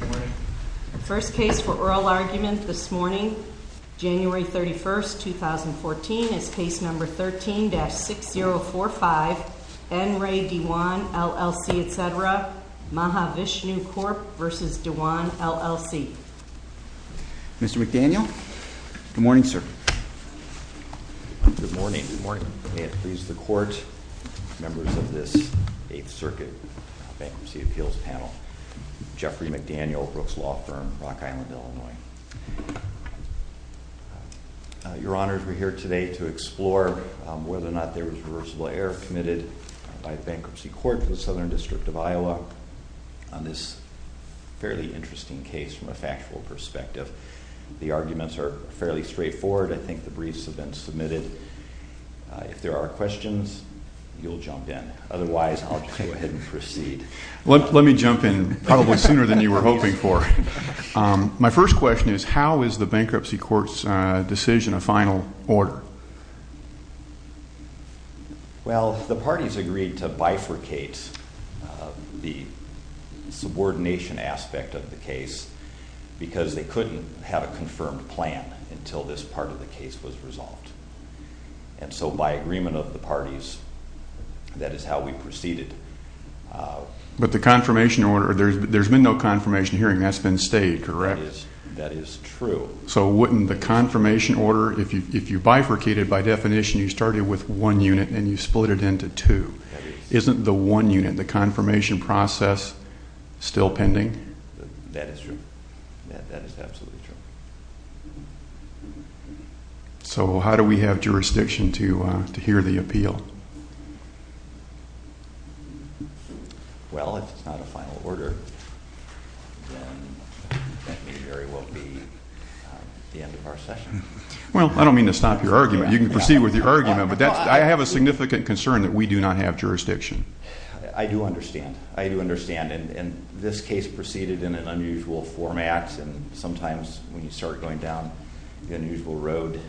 Our first case for oral argument this morning, January 31, 2014, is Case No. 13-6045, N. Ray DeJuan, LLC, etc., Mahavishnu Corp. v. DeJuan, LLC. Mr. McDaniel? Good morning, sir. Good morning. May it please the Court, members of this Eighth Circuit Bankruptcy Appeals Panel. Jeffrey McDaniel, Brooks Law Firm, Rock Island, Illinois. Your Honors, we're here today to explore whether or not there was reversible error committed by the Bankruptcy Court of the Southern District of Iowa on this fairly interesting case from a factual perspective. The arguments are fairly straightforward. I think the briefs have been submitted. If there are questions, you'll jump in. Otherwise, I'll just go ahead and proceed. Let me jump in probably sooner than you were hoping for. My first question is, how is the Bankruptcy Court's decision a final order? Well, the parties agreed to bifurcate the subordination aspect of the case because they couldn't have a confirmed plan until this part of the case was resolved. And so by agreement of the parties, that is how we proceeded. But the confirmation order, there's been no confirmation hearing. That's been stayed, correct? That is true. So wouldn't the confirmation order, if you bifurcated by definition, you started with one unit and you split it into two. Isn't the one unit, the confirmation process, still pending? That is true. That is absolutely true. So how do we have jurisdiction to hear the appeal? Well, if it's not a final order, then that may very well be the end of our session. Well, I don't mean to stop your argument. You can proceed with your argument. But I have a significant concern that we do not have jurisdiction. I do understand. I do understand. And this case proceeded in an unusual format. And sometimes when you start going down the unusual road,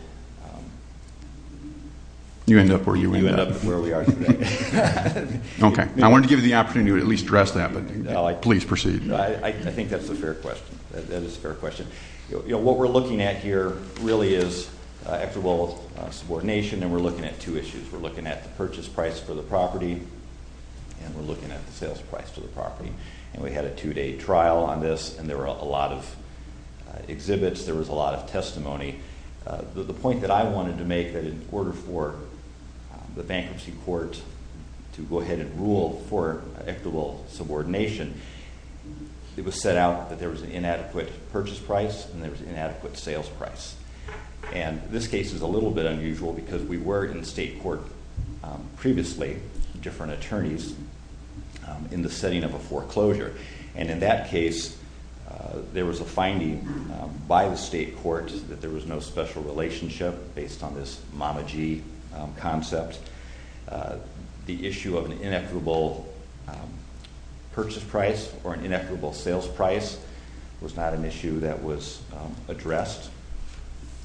you end up where we are today. Okay. I wanted to give you the opportunity to at least address that, but please proceed. I think that's a fair question. That is a fair question. What we're looking at here really is equitable subordination, and we're looking at two issues. We're looking at the purchase price for the property, and we're looking at the sales price for the property. And we had a two-day trial on this, and there were a lot of exhibits. There was a lot of testimony. The point that I wanted to make that in order for the bankruptcy court to go ahead and rule for equitable subordination, it was set out that there was an inadequate purchase price and there was an inadequate sales price. And this case is a little bit unusual because we were in state court previously, different attorneys, in the setting of a foreclosure. And in that case, there was a finding by the state court that there was no special relationship based on this Mama G concept. The issue of an inequitable purchase price or an inequitable sales price was not an issue that was addressed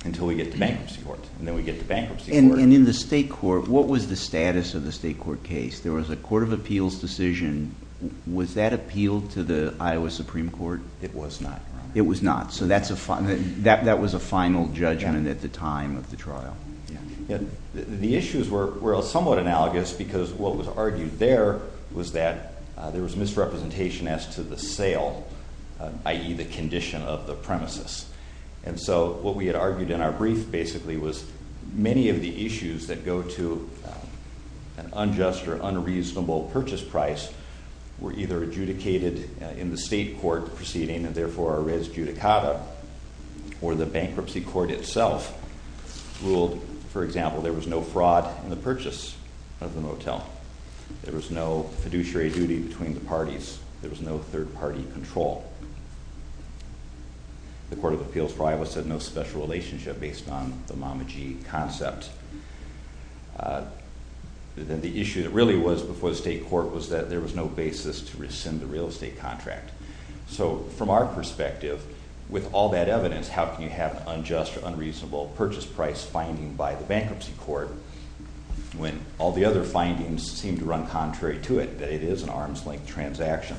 until we get to bankruptcy court. And then we get to bankruptcy court. And in the state court, what was the status of the state court case? There was a court of appeals decision. Was that appealed to the Iowa Supreme Court? It was not. It was not. So that was a final judgment at the time of the trial. The issues were somewhat analogous because what was argued there was that there was misrepresentation as to the sale, i.e. the condition of the premises. And so what we had argued in our brief basically was many of the issues that go to an unjust or unreasonable purchase price were either adjudicated in the state court proceeding and therefore are res judicata or the bankruptcy court itself ruled, for example, there was no fraud in the purchase of the motel. There was no fiduciary duty between the parties. There was no third-party control. The court of appeals for Iowa said no special relationship based on the Mama G concept. Then the issue that really was before the state court was that there was no basis to rescind the real estate contract. So from our perspective, with all that evidence, how can you have an unjust or unreasonable purchase price finding by the bankruptcy court when all the other findings seem to run contrary to it, that it is an arms-length transaction?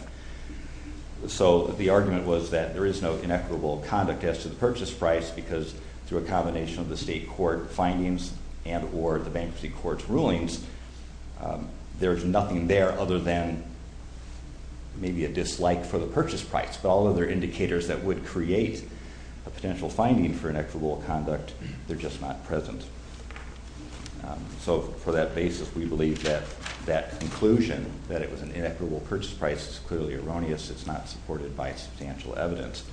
So the argument was that there is no inequitable conduct as to the purchase price because through a combination of the state court findings and or the bankruptcy court's rulings, there's nothing there other than maybe a dislike for the purchase price. But all other indicators that would create a potential finding for inequitable conduct, they're just not present. So for that basis, we believe that that conclusion that it was an inequitable purchase price is clearly erroneous. It's not supported by substantial evidence.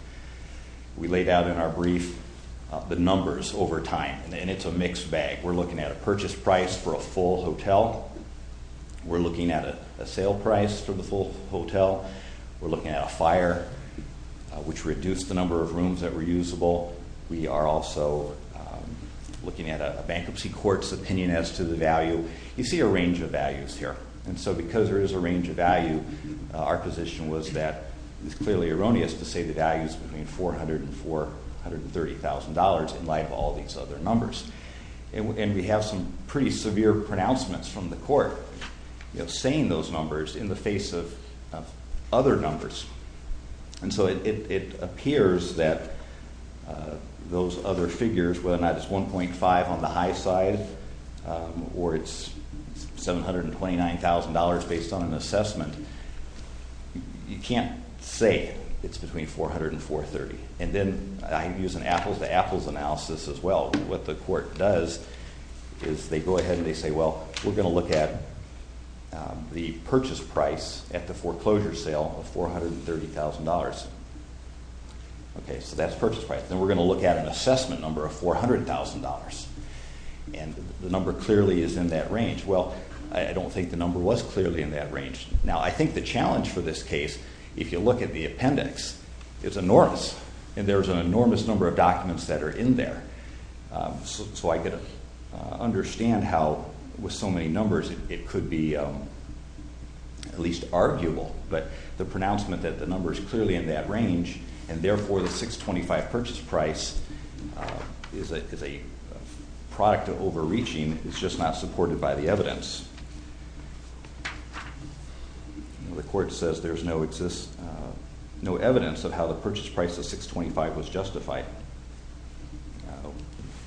We laid out in our brief the numbers over time, and it's a mixed bag. We're looking at a purchase price for a full hotel. We're looking at a sale price for the full hotel. We're looking at a fire, which reduced the number of rooms that were usable. We are also looking at a bankruptcy court's opinion as to the value. You see a range of values here. And so because there is a range of value, our position was that it's clearly erroneous to say the value is between $400,000 and $430,000 in light of all these other numbers. And we have some pretty severe pronouncements from the court saying those numbers in the face of other numbers. And so it appears that those other figures, whether or not it's $1.5 on the high side or it's $729,000 based on an assessment, you can't say it's between $400,000 and $430,000. And then I use an apples-to-apples analysis as well. What the court does is they go ahead and they say, well, we're going to look at the purchase price at the foreclosure sale of $430,000. Okay, so that's purchase price. Then we're going to look at an assessment number of $400,000. And the number clearly is in that range. Well, I don't think the number was clearly in that range. Now, I think the challenge for this case, if you look at the appendix, it's enormous. And there's an enormous number of documents that are in there. So I could understand how with so many numbers it could be at least arguable. But the pronouncement that the number is clearly in that range and, therefore, the $625,000 purchase price is a product of overreaching is just not supported by the evidence. The court says there's no evidence of how the purchase price of $625,000 was justified.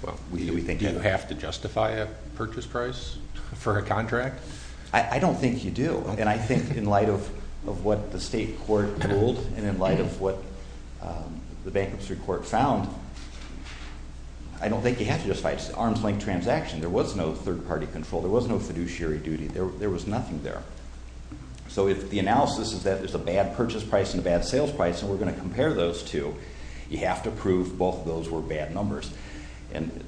Do you have to justify a purchase price for a contract? I don't think you do. And I think in light of what the state court ruled and in light of what the bankruptcy court found, I don't think you have to justify it. It's an arm's-length transaction. There was no third-party control. There was no fiduciary duty. There was nothing there. So if the analysis is that there's a bad purchase price and a bad sales price and we're going to compare those two, you have to prove both of those were bad numbers. And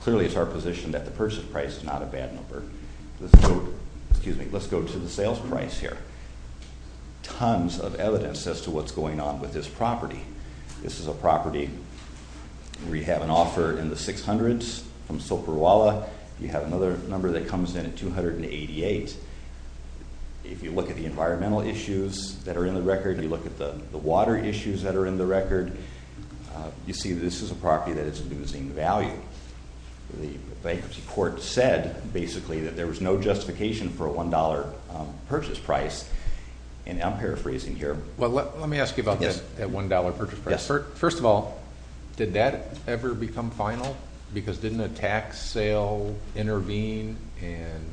clearly it's our position that the purchase price is not a bad number. Let's go to the sales price here. Tons of evidence as to what's going on with this property. This is a property where you have an offer in the 600s from Soperwalla. You have another number that comes in at 288. If you look at the environmental issues that are in the record, you look at the water issues that are in the record, you see this is a property that is losing value. The bankruptcy court said, basically, that there was no justification for a $1 purchase price. And I'm paraphrasing here. Well, let me ask you about that $1 purchase price. First of all, did that ever become final? Because didn't a tax sale intervene and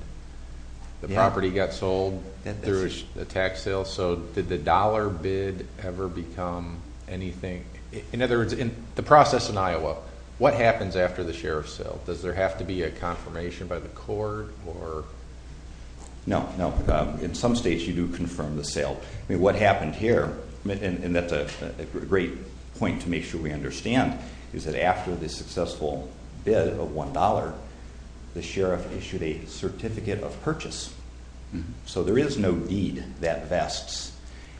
the property got sold through a tax sale? So did the dollar bid ever become anything? In other words, in the process in Iowa, what happens after the sheriff's sale? Does there have to be a confirmation by the court? No, no. In some states you do confirm the sale. I mean, what happened here, and that's a great point to make sure we understand, is that after the successful bid of $1, the sheriff issued a certificate of purchase. So there is no deed that vests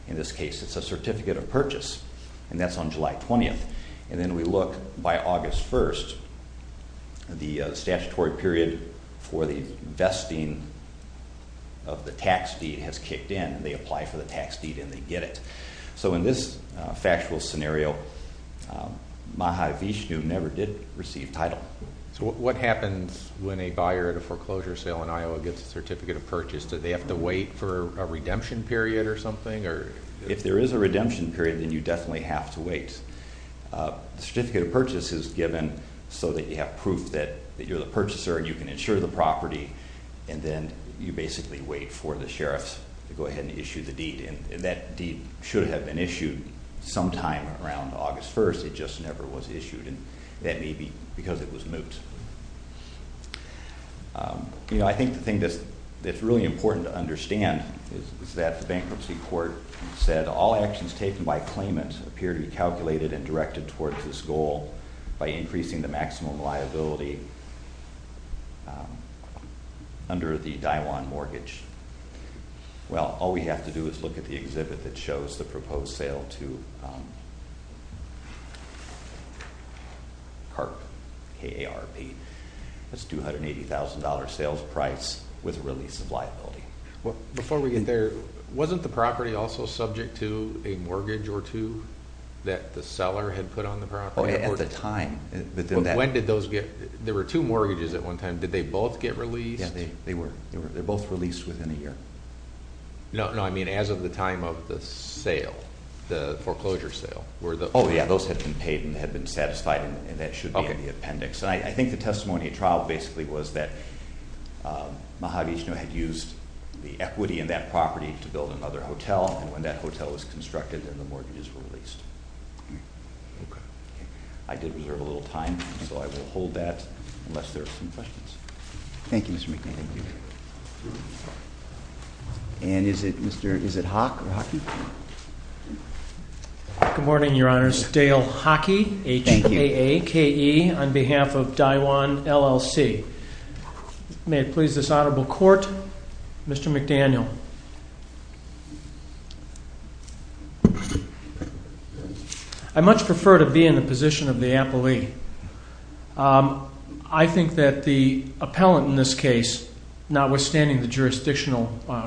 in this case. It's a certificate of purchase, and that's on July 20th. And then we look by August 1st. The statutory period for the vesting of the tax deed has kicked in. They apply for the tax deed and they get it. So in this factual scenario, Maha Vishnu never did receive title. So what happens when a buyer at a foreclosure sale in Iowa gets a certificate of purchase? Do they have to wait for a redemption period or something? If there is a redemption period, then you definitely have to wait. The certificate of purchase is given so that you have proof that you're the purchaser and you can insure the property, and then you basically wait for the sheriff to go ahead and issue the deed. And that deed should have been issued sometime around August 1st. It just never was issued, and that may be because it was moot. You know, I think the thing that's really important to understand is that the bankruptcy court said all actions taken by claimant appear to be calculated and directed towards this goal by increasing the maximum liability under the Daiwan mortgage. Well, all we have to do is look at the exhibit that shows the proposed sale to KARP, K-A-R-P. That's $280,000 sales price with a release of liability. Before we get there, wasn't the property also subject to a mortgage or two that the seller had put on the property? At the time. When did those get – there were two mortgages at one time. Did they both get released? Yeah, they were. They were both released within a year. No, I mean as of the time of the sale, the foreclosure sale. Oh, yeah. Those had been paid and had been satisfied, and that should be in the appendix. I think the testimony at trial basically was that Mahavishnu had used the equity in that property to build another hotel, and when that hotel was constructed, then the mortgages were released. Okay. I did reserve a little time, so I will hold that unless there are some questions. Thank you, Mr. McDaniel. And is it Hawk or Hockey? Good morning, Your Honors. Dale Hockey, H-A-A-K-E, on behalf of Daiwan LLC. May it please this Honorable Court, Mr. McDaniel. I much prefer to be in the position of the appellee. I think that the appellant in this case, notwithstanding the jurisdictional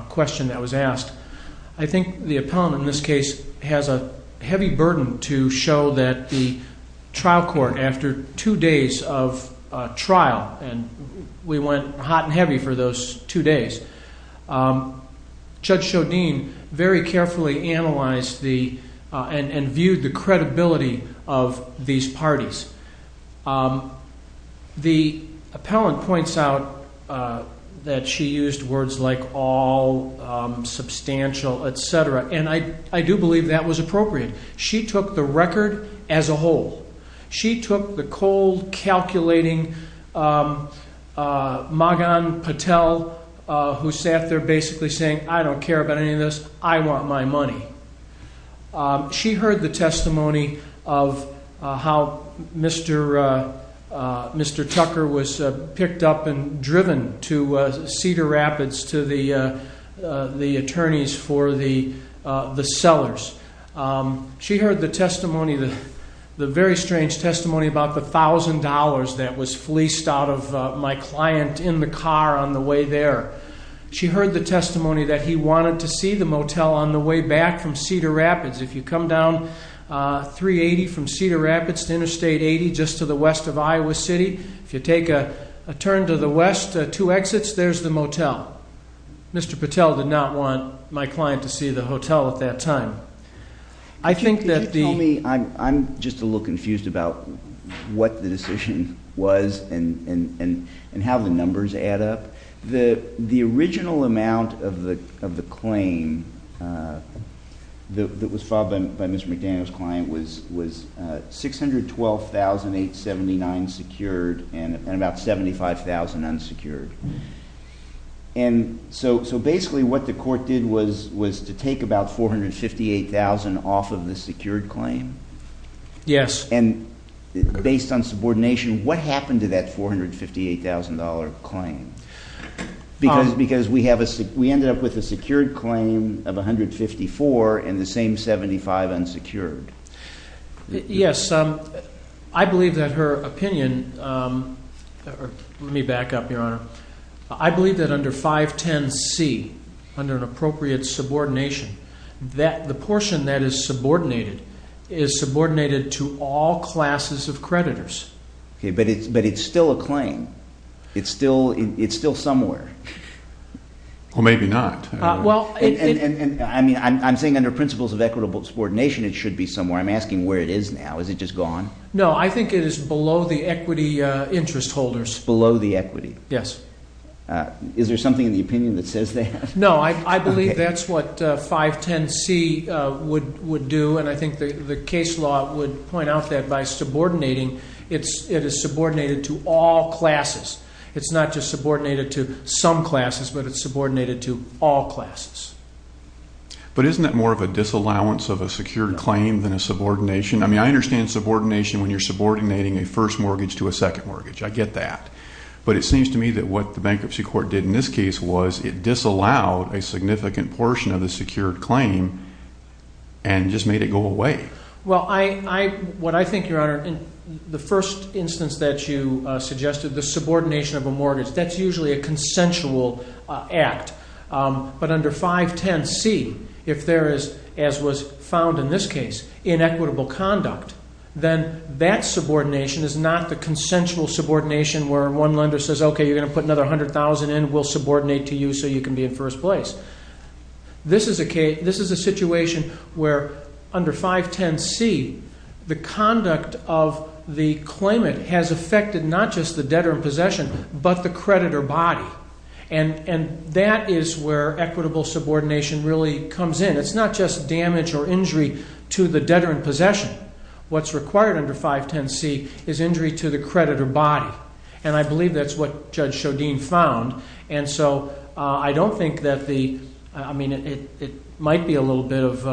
question that was asked, I think the appellant in this case has a heavy burden to show that the trial court, after two days of trial, and we went hot and heavy for those two days, Judge Shodin very carefully analyzed and viewed the credibility of these parties. The appellant points out that she used words like all, substantial, etc., and I do believe that was appropriate. She took the record as a whole. She took the cold, calculating Magan Patel, who sat there basically saying, I don't care about any of this. I want my money. She heard the testimony of how Mr. Tucker was picked up and driven to Cedar Rapids to the attorneys for the sellers. She heard the testimony, the very strange testimony about the $1,000 that was fleeced out of my client in the car on the way there. She heard the testimony that he wanted to see the motel on the way back from Cedar Rapids. If you come down 380 from Cedar Rapids to Interstate 80, just to the west of Iowa City, if you take a turn to the west, two exits, there's the motel. Mr. Patel did not want my client to see the hotel at that time. I think that the- Could you tell me, I'm just a little confused about what the decision was and how the numbers add up. The original amount of the claim that was filed by Mr. McDaniel's client was $612,879 secured and about $75,000 unsecured. So basically what the court did was to take about $458,000 off of the secured claim. Yes. And based on subordination, what happened to that $458,000 claim? Because we ended up with a secured claim of $154,000 and the same $75,000 unsecured. Yes. I believe that her opinion- let me back up, Your Honor. I believe that under 510C, under an appropriate subordination, the portion that is subordinated is subordinated to all classes of creditors. But it's still a claim. It's still somewhere. Well, maybe not. I'm saying under principles of equitable subordination it should be somewhere. I'm asking where it is now. Is it just gone? No, I think it is below the equity interest holders. Below the equity. Yes. Is there something in the opinion that says that? No, I believe that's what 510C would do, and I think the case law would point out that by subordinating, it is subordinated to all classes. It's not just subordinated to some classes, but it's subordinated to all classes. But isn't that more of a disallowance of a secured claim than a subordination? I mean, I understand subordination when you're subordinating a first mortgage to a second mortgage. I get that. But it seems to me that what the bankruptcy court did in this case was it disallowed a significant portion of the secured claim and just made it go away. Well, what I think, Your Honor, in the first instance that you suggested, the subordination of a mortgage, that's usually a consensual act. But under 510C, if there is, as was found in this case, inequitable conduct, then that subordination is not the consensual subordination where one lender says, okay, you're going to put another $100,000 in, we'll subordinate to you so you can be in first place. This is a situation where under 510C, the conduct of the claimant has affected not just the debtor in possession, but the creditor body. And that is where equitable subordination really comes in. It's not just damage or injury to the debtor in possession. What's required under 510C is injury to the creditor body. And I believe that's what Judge Shodin found. And so I don't think that the, I mean, it might be a little bit of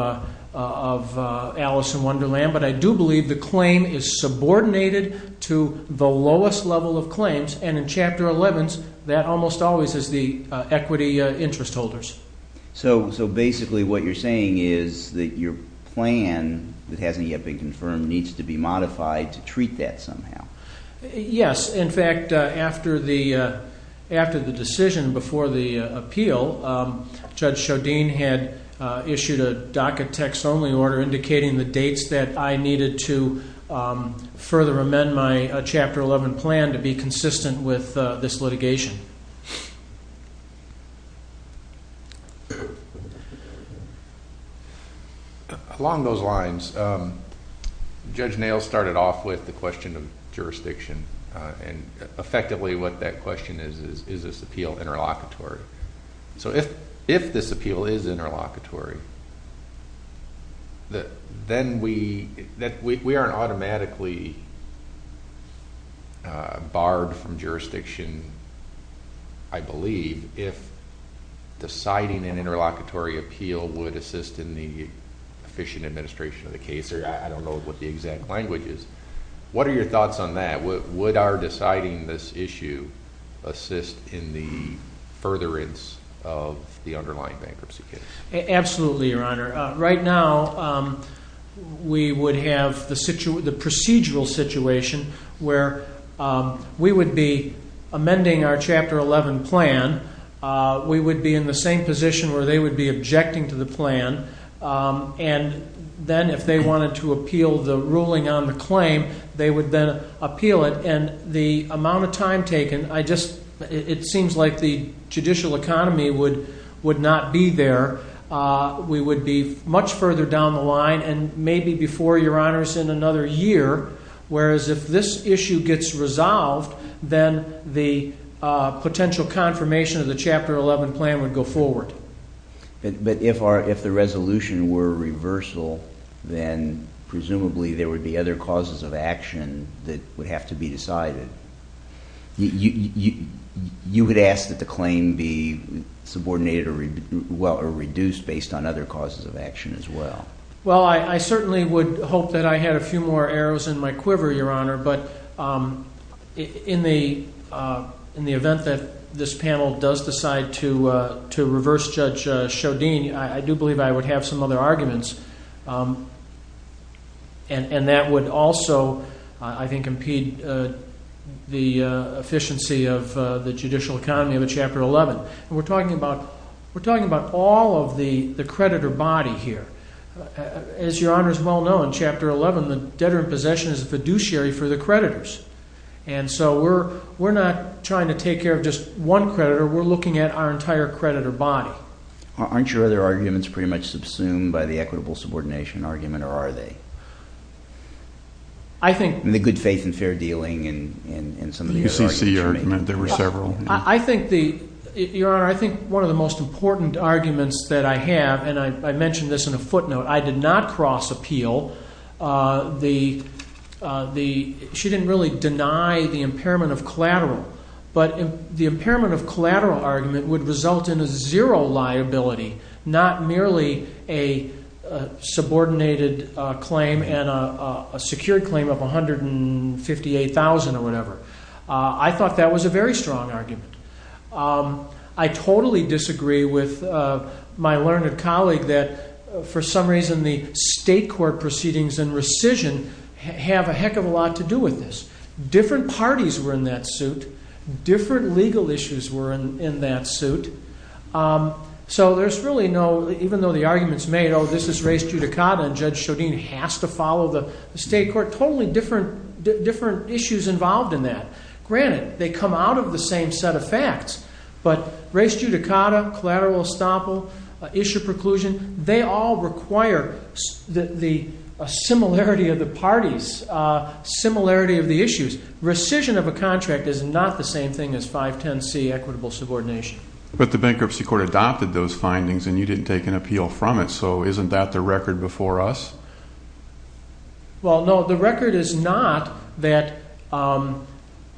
Alice in Wonderland, but I do believe the claim is subordinated to the lowest level of claims. And in Chapter 11, that almost always is the equity interest holders. So basically what you're saying is that your plan that hasn't yet been confirmed needs to be modified to treat that somehow. Yes. In fact, after the decision before the appeal, Judge Shodin had issued a docket text only order indicating the dates that I needed to further amend my Chapter 11 plan to be consistent with this litigation. Along those lines, Judge Nails started off with the question of jurisdiction and effectively what that question is, is this appeal interlocutory? So if this appeal is interlocutory, then we aren't automatically barred from jurisdiction, I believe, if deciding an interlocutory appeal would assist in the efficient administration of the case. I don't know what the exact language is. What are your thoughts on that? Would our deciding this issue assist in the furtherance of the underlying bankruptcy case? Absolutely, Your Honor. Right now, we would have the procedural situation where we would be amending our Chapter 11 plan. We would be in the same position where they would be objecting to the plan. And then if they wanted to appeal the ruling on the claim, they would then appeal it. And the amount of time taken, it seems like the judicial economy would not be there. We would be much further down the line and maybe before, Your Honors, in another year. Whereas if this issue gets resolved, then the potential confirmation of the Chapter 11 plan would go forward. But if the resolution were a reversal, then presumably there would be other causes of action that would have to be decided. You would ask that the claim be subordinated or reduced based on other causes of action as well. Well, I certainly would hope that I had a few more arrows in my quiver, Your Honor. But in the event that this panel does decide to reverse Judge Shodin, I do believe I would have some other arguments. And that would also, I think, impede the efficiency of the judicial economy of a Chapter 11. We're talking about all of the creditor body here. As Your Honors well know, in Chapter 11, the debtor in possession is the fiduciary for the creditors. And so we're not trying to take care of just one creditor. We're looking at our entire creditor body. Aren't your other arguments pretty much subsumed by the equitable subordination argument, or are they? I think… The good faith and fair dealing and some of the other arguments you made. The UCC argument. There were several. Your Honor, I think one of the most important arguments that I have, and I mentioned this in a footnote, I did not cross appeal. She didn't really deny the impairment of collateral. But the impairment of collateral argument would result in a zero liability, not merely a subordinated claim and a secured claim of $158,000 or whatever. I thought that was a very strong argument. I totally disagree with my learned colleague that, for some reason, the state court proceedings and rescission have a heck of a lot to do with this. Different parties were in that suit. So there's really no… Even though the argument's made, oh, this is res judicata and Judge Shodin has to follow the state court. Totally different issues involved in that. Granted, they come out of the same set of facts. But res judicata, collateral estoppel, issue preclusion, they all require the similarity of the parties, similarity of the issues. Rescission of a contract is not the same thing as 510C, equitable subordination. But the bankruptcy court adopted those findings and you didn't take an appeal from it, so isn't that the record before us? Well, no, the record is not that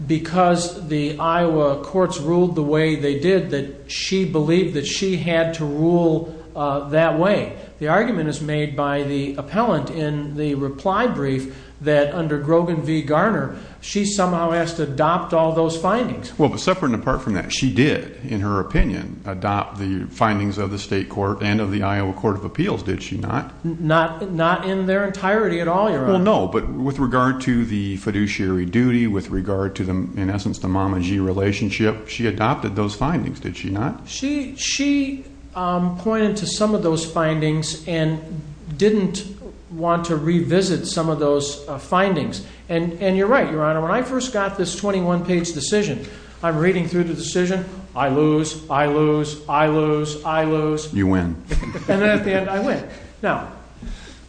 because the Iowa courts ruled the way they did that she believed that she had to rule that way. The argument is made by the appellant in the reply brief that under Grogan v. Garner, she somehow has to adopt all those findings. Well, but separate and apart from that, she did, in her opinion, adopt the findings of the state court and of the Iowa Court of Appeals, did she not? Not in their entirety at all, Your Honor. Well, no, but with regard to the fiduciary duty, with regard to, in essence, the Mama G relationship, she adopted those findings, did she not? She pointed to some of those findings and didn't want to revisit some of those findings. And you're right, Your Honor, when I first got this 21-page decision, I'm reading through the decision, I lose, I lose, I lose, I lose. You win. And at the end, I win. Now,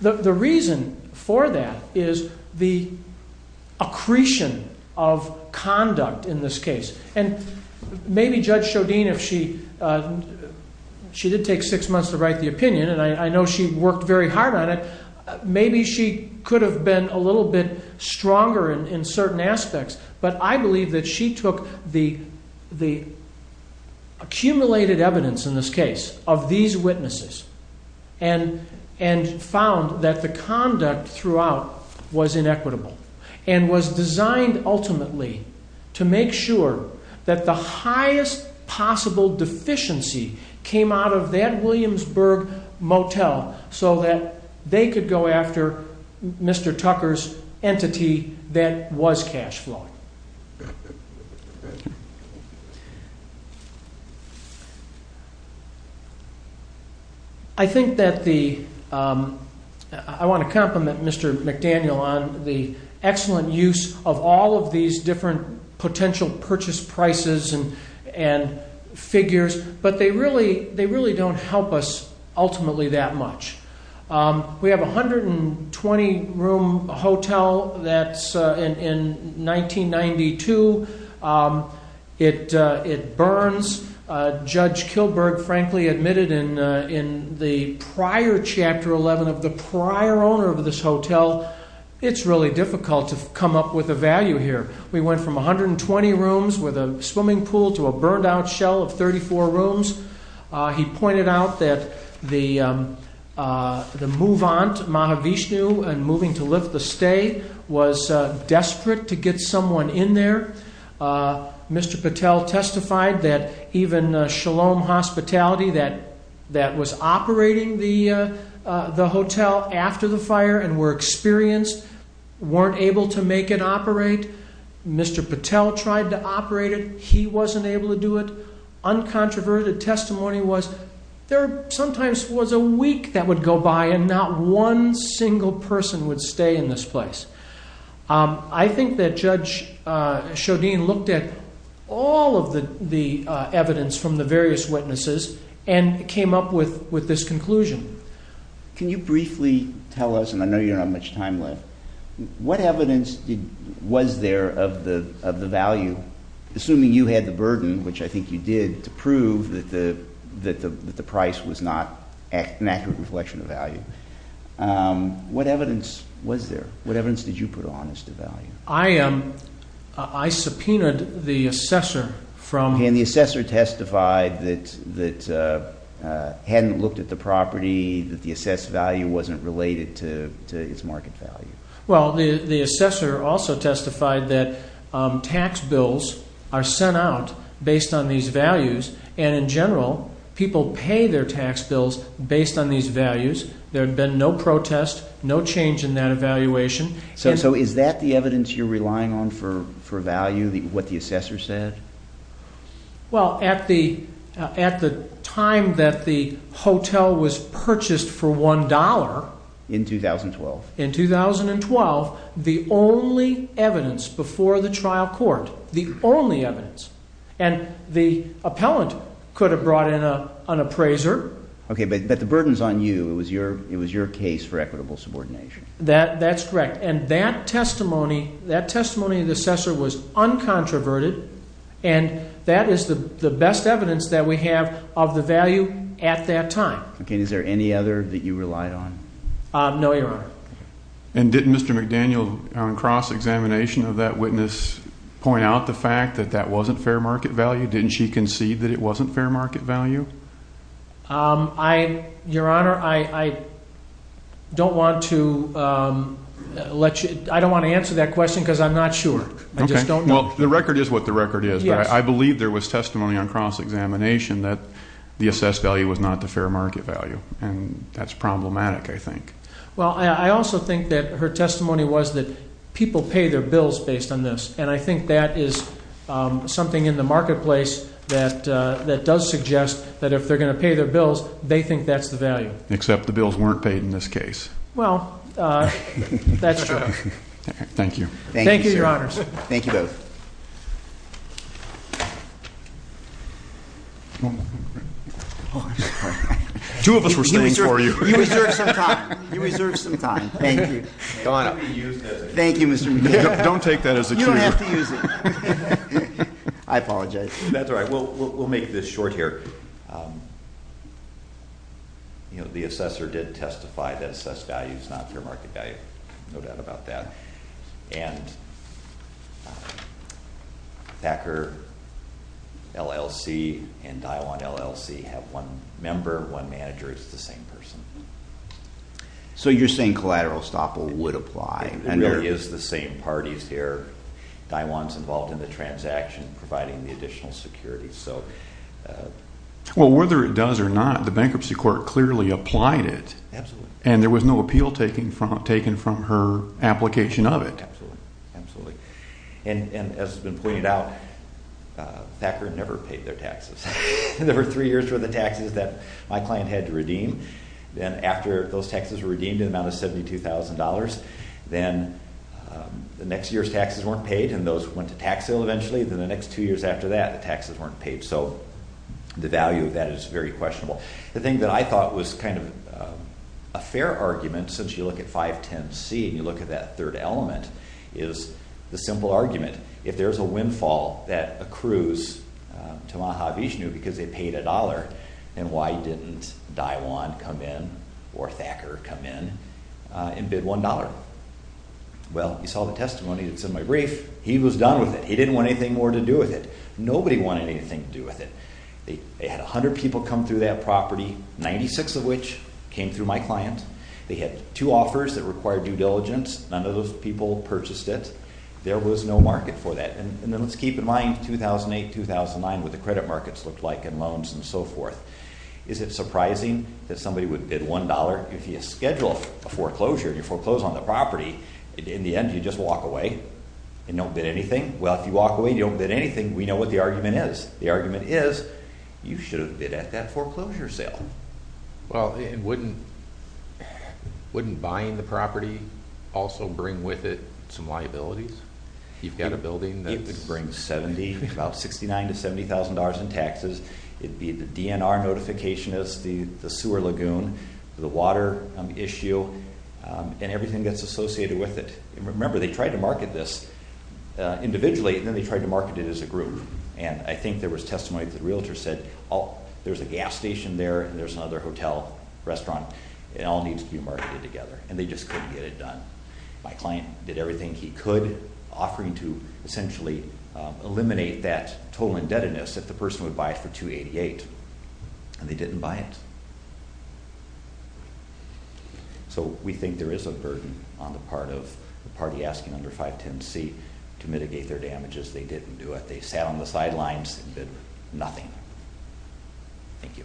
the reason for that is the accretion of conduct in this case. And maybe Judge Shodin, if she did take six months to write the opinion, and I know she worked very hard on it, maybe she could have been a little bit stronger in certain aspects, but I believe that she took the accumulated evidence in this case of these witnesses and found that the conduct throughout was inequitable and was designed ultimately to make sure that the highest possible deficiency came out of that Williamsburg motel so that they could go after Mr. Tucker's entity that was cash flowing. I think that the, I want to compliment Mr. McDaniel on the excellent use of all of these different potential purchase prices and figures, but they really don't help us ultimately that much. We have a 120-room hotel that's in 1992. It burns. Judge Kilberg frankly admitted in the prior Chapter 11 of the prior owner of this hotel, it's really difficult to come up with a value here. We went from 120 rooms with a swimming pool to a burned-out shell of 34 rooms. He pointed out that the move-on to Mahavishnu and moving to lift the stay was desperate to get someone in there. Mr. Patel testified that even Shalom Hospitality that was operating the hotel after the fire and were experienced weren't able to make it operate. Mr. Patel tried to operate it. He wasn't able to do it. Uncontroverted testimony was there sometimes was a week that would go by and not one single person would stay in this place. I think that Judge Shodin looked at all of the evidence from the various witnesses and came up with this conclusion. Can you briefly tell us, and I know you don't have much time left, what evidence was there of the value? Assuming you had the burden, which I think you did, to prove that the price was not an accurate reflection of value, what evidence was there? What evidence did you put on as to value? I subpoenaed the assessor from... that the assessed value wasn't related to its market value. The assessor also testified that tax bills are sent out based on these values and in general people pay their tax bills based on these values. There had been no protest, no change in that evaluation. Is that the evidence you're relying on for value, what the assessor said? Well, at the time that the hotel was purchased for $1... In 2012. In 2012, the only evidence before the trial court, the only evidence, and the appellant could have brought in an appraiser. Okay, but the burden's on you. It was your case for equitable subordination. That's correct, and that testimony of the assessor was uncontroverted, and that is the best evidence that we have of the value at that time. Okay, is there any other that you relied on? No, Your Honor. And didn't Mr. McDaniel, on cross-examination of that witness, point out the fact that that wasn't fair market value? Didn't she concede that it wasn't fair market value? Your Honor, I don't want to answer that question because I'm not sure. Well, the record is what the record is, but I believe there was testimony on cross-examination that the assessed value was not the fair market value, and that's problematic, I think. Well, I also think that her testimony was that people pay their bills based on this, and I think that is something in the marketplace that does suggest that if they're going to pay their bills, they think that's the value. Except the bills weren't paid in this case. Well, that's true. Thank you. Thank you, Your Honors. Thank you both. Two of us were standing for you. You reserved some time. Thank you. Thank you, Mr. McDaniel. Don't take that as a cue. You don't have to use it. I apologize. That's all right. We'll make this short here. You know, the assessor did testify that assessed value is not fair market value. No doubt about that. And Packer LLC and Daiwan LLC have one member, one manager. It's the same person. So you're saying collateral estoppel would apply and really is the same parties here. Daiwan's involved in the transaction, providing the additional security. Well, whether it does or not, the bankruptcy court clearly applied it. Absolutely. And there was no appeal taken from her application of it. Absolutely. There were three years worth of taxes that my client had to redeem. Then after those taxes were redeemed in the amount of $72,000, then the next year's taxes weren't paid and those went to tax sale eventually. Then the next two years after that, the taxes weren't paid. So the value of that is very questionable. The thing that I thought was kind of a fair argument, since you look at 510C and you look at that third element, is the simple argument. If there's a windfall that accrues to Maha Vishnu because they paid $1, then why didn't Daiwan come in or Thacker come in and bid $1? Well, you saw the testimony that's in my brief. He was done with it. He didn't want anything more to do with it. Nobody wanted anything to do with it. They had 100 people come through that property, 96 of which came through my client. They had two offers that required due diligence. None of those people purchased it. There was no market for that. Let's keep in mind 2008, 2009, what the credit markets looked like and loans and so forth. Is it surprising that somebody would bid $1? If you schedule a foreclosure and you foreclose on the property, in the end you just walk away and don't bid anything? Well, if you walk away and you don't bid anything, we know what the argument is. The argument is you should have bid at that foreclosure sale. Well, wouldn't buying the property also bring with it some liabilities? You've got a building that brings about $69,000 to $70,000 in taxes. It would be the DNR notification as the sewer lagoon, the water issue, and everything that's associated with it. Remember, they tried to market this individually, and then they tried to market it as a group. And I think there was testimony that the realtor said, oh, there's a gas station there and there's another hotel, restaurant. It all needs to be marketed together. And they just couldn't get it done. My client did everything he could, offering to essentially eliminate that total indebtedness if the person would buy it for $288,000. And they didn't buy it. So we think there is a burden on the part of the party asking under 510C to mitigate their damages. They didn't do it. They sat on the sidelines and did nothing. Thank you.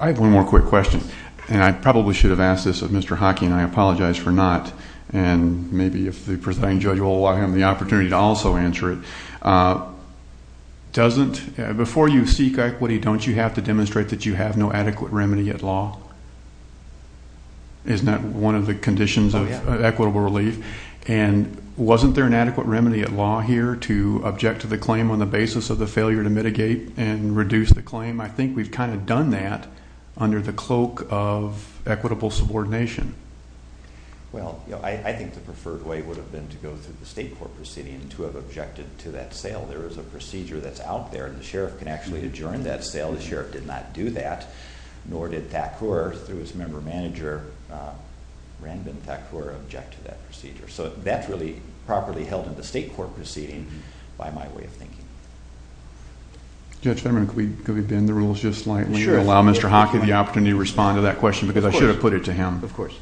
I have one more quick question. And I probably should have asked this of Mr. Hockey, and I apologize for not. And maybe if the presiding judge will allow him the opportunity to also answer it. Doesn't – before you seek equity, don't you have to demonstrate that you have no adequate remedy at law? Isn't that one of the conditions of equitable relief? And wasn't there an adequate remedy at law here to object to the claim on the basis of the failure to mitigate and reduce the claim? I think we've kind of done that under the cloak of equitable subordination. Well, I think the preferred way would have been to go through the state court proceeding and to have objected to that sale. There is a procedure that's out there, and the sheriff can actually adjourn that sale. The sheriff did not do that, nor did Thakur through his member manager, Ranbin Thakur, object to that procedure. So that's really properly held in the state court proceeding by my way of thinking. Judge Fetterman, could we bend the rules just slightly and allow Mr. Hockey the opportunity to respond to that question? Because I should have put it to him. Of course.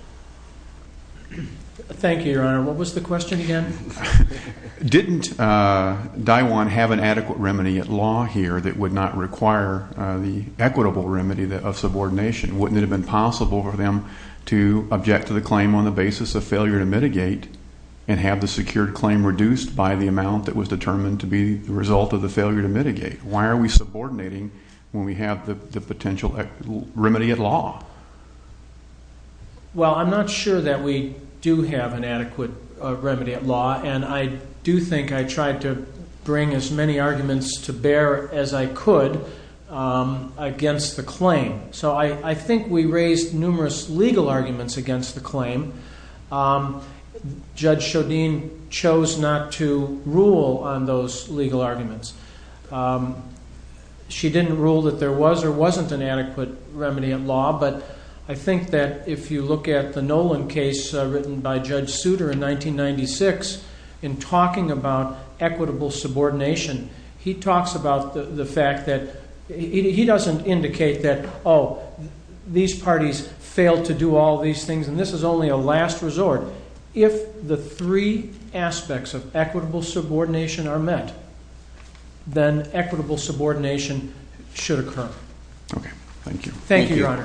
Thank you, Your Honor. What was the question again? Didn't Daiwan have an adequate remedy at law here that would not require the equitable remedy of subordination? Wouldn't it have been possible for them to object to the claim on the basis of failure to mitigate and have the secured claim reduced by the amount that was determined to be the result of the failure to mitigate? Why are we subordinating when we have the potential remedy at law? Well, I'm not sure that we do have an adequate remedy at law, and I do think I tried to bring as many arguments to bear as I could against the claim. So I think we raised numerous legal arguments against the claim. Judge Chaudine chose not to rule on those legal arguments. She didn't rule that there was or wasn't an adequate remedy at law, but I think that if you look at the Nolan case written by Judge Souter in 1996 in talking about equitable subordination, he talks about the fact that he doesn't indicate that, oh, these parties failed to do all these things and this is only a last resort. If the three aspects of equitable subordination are met, then equitable subordination should occur. Okay. Thank you. Thank you, Your Honor. Thank you, folks.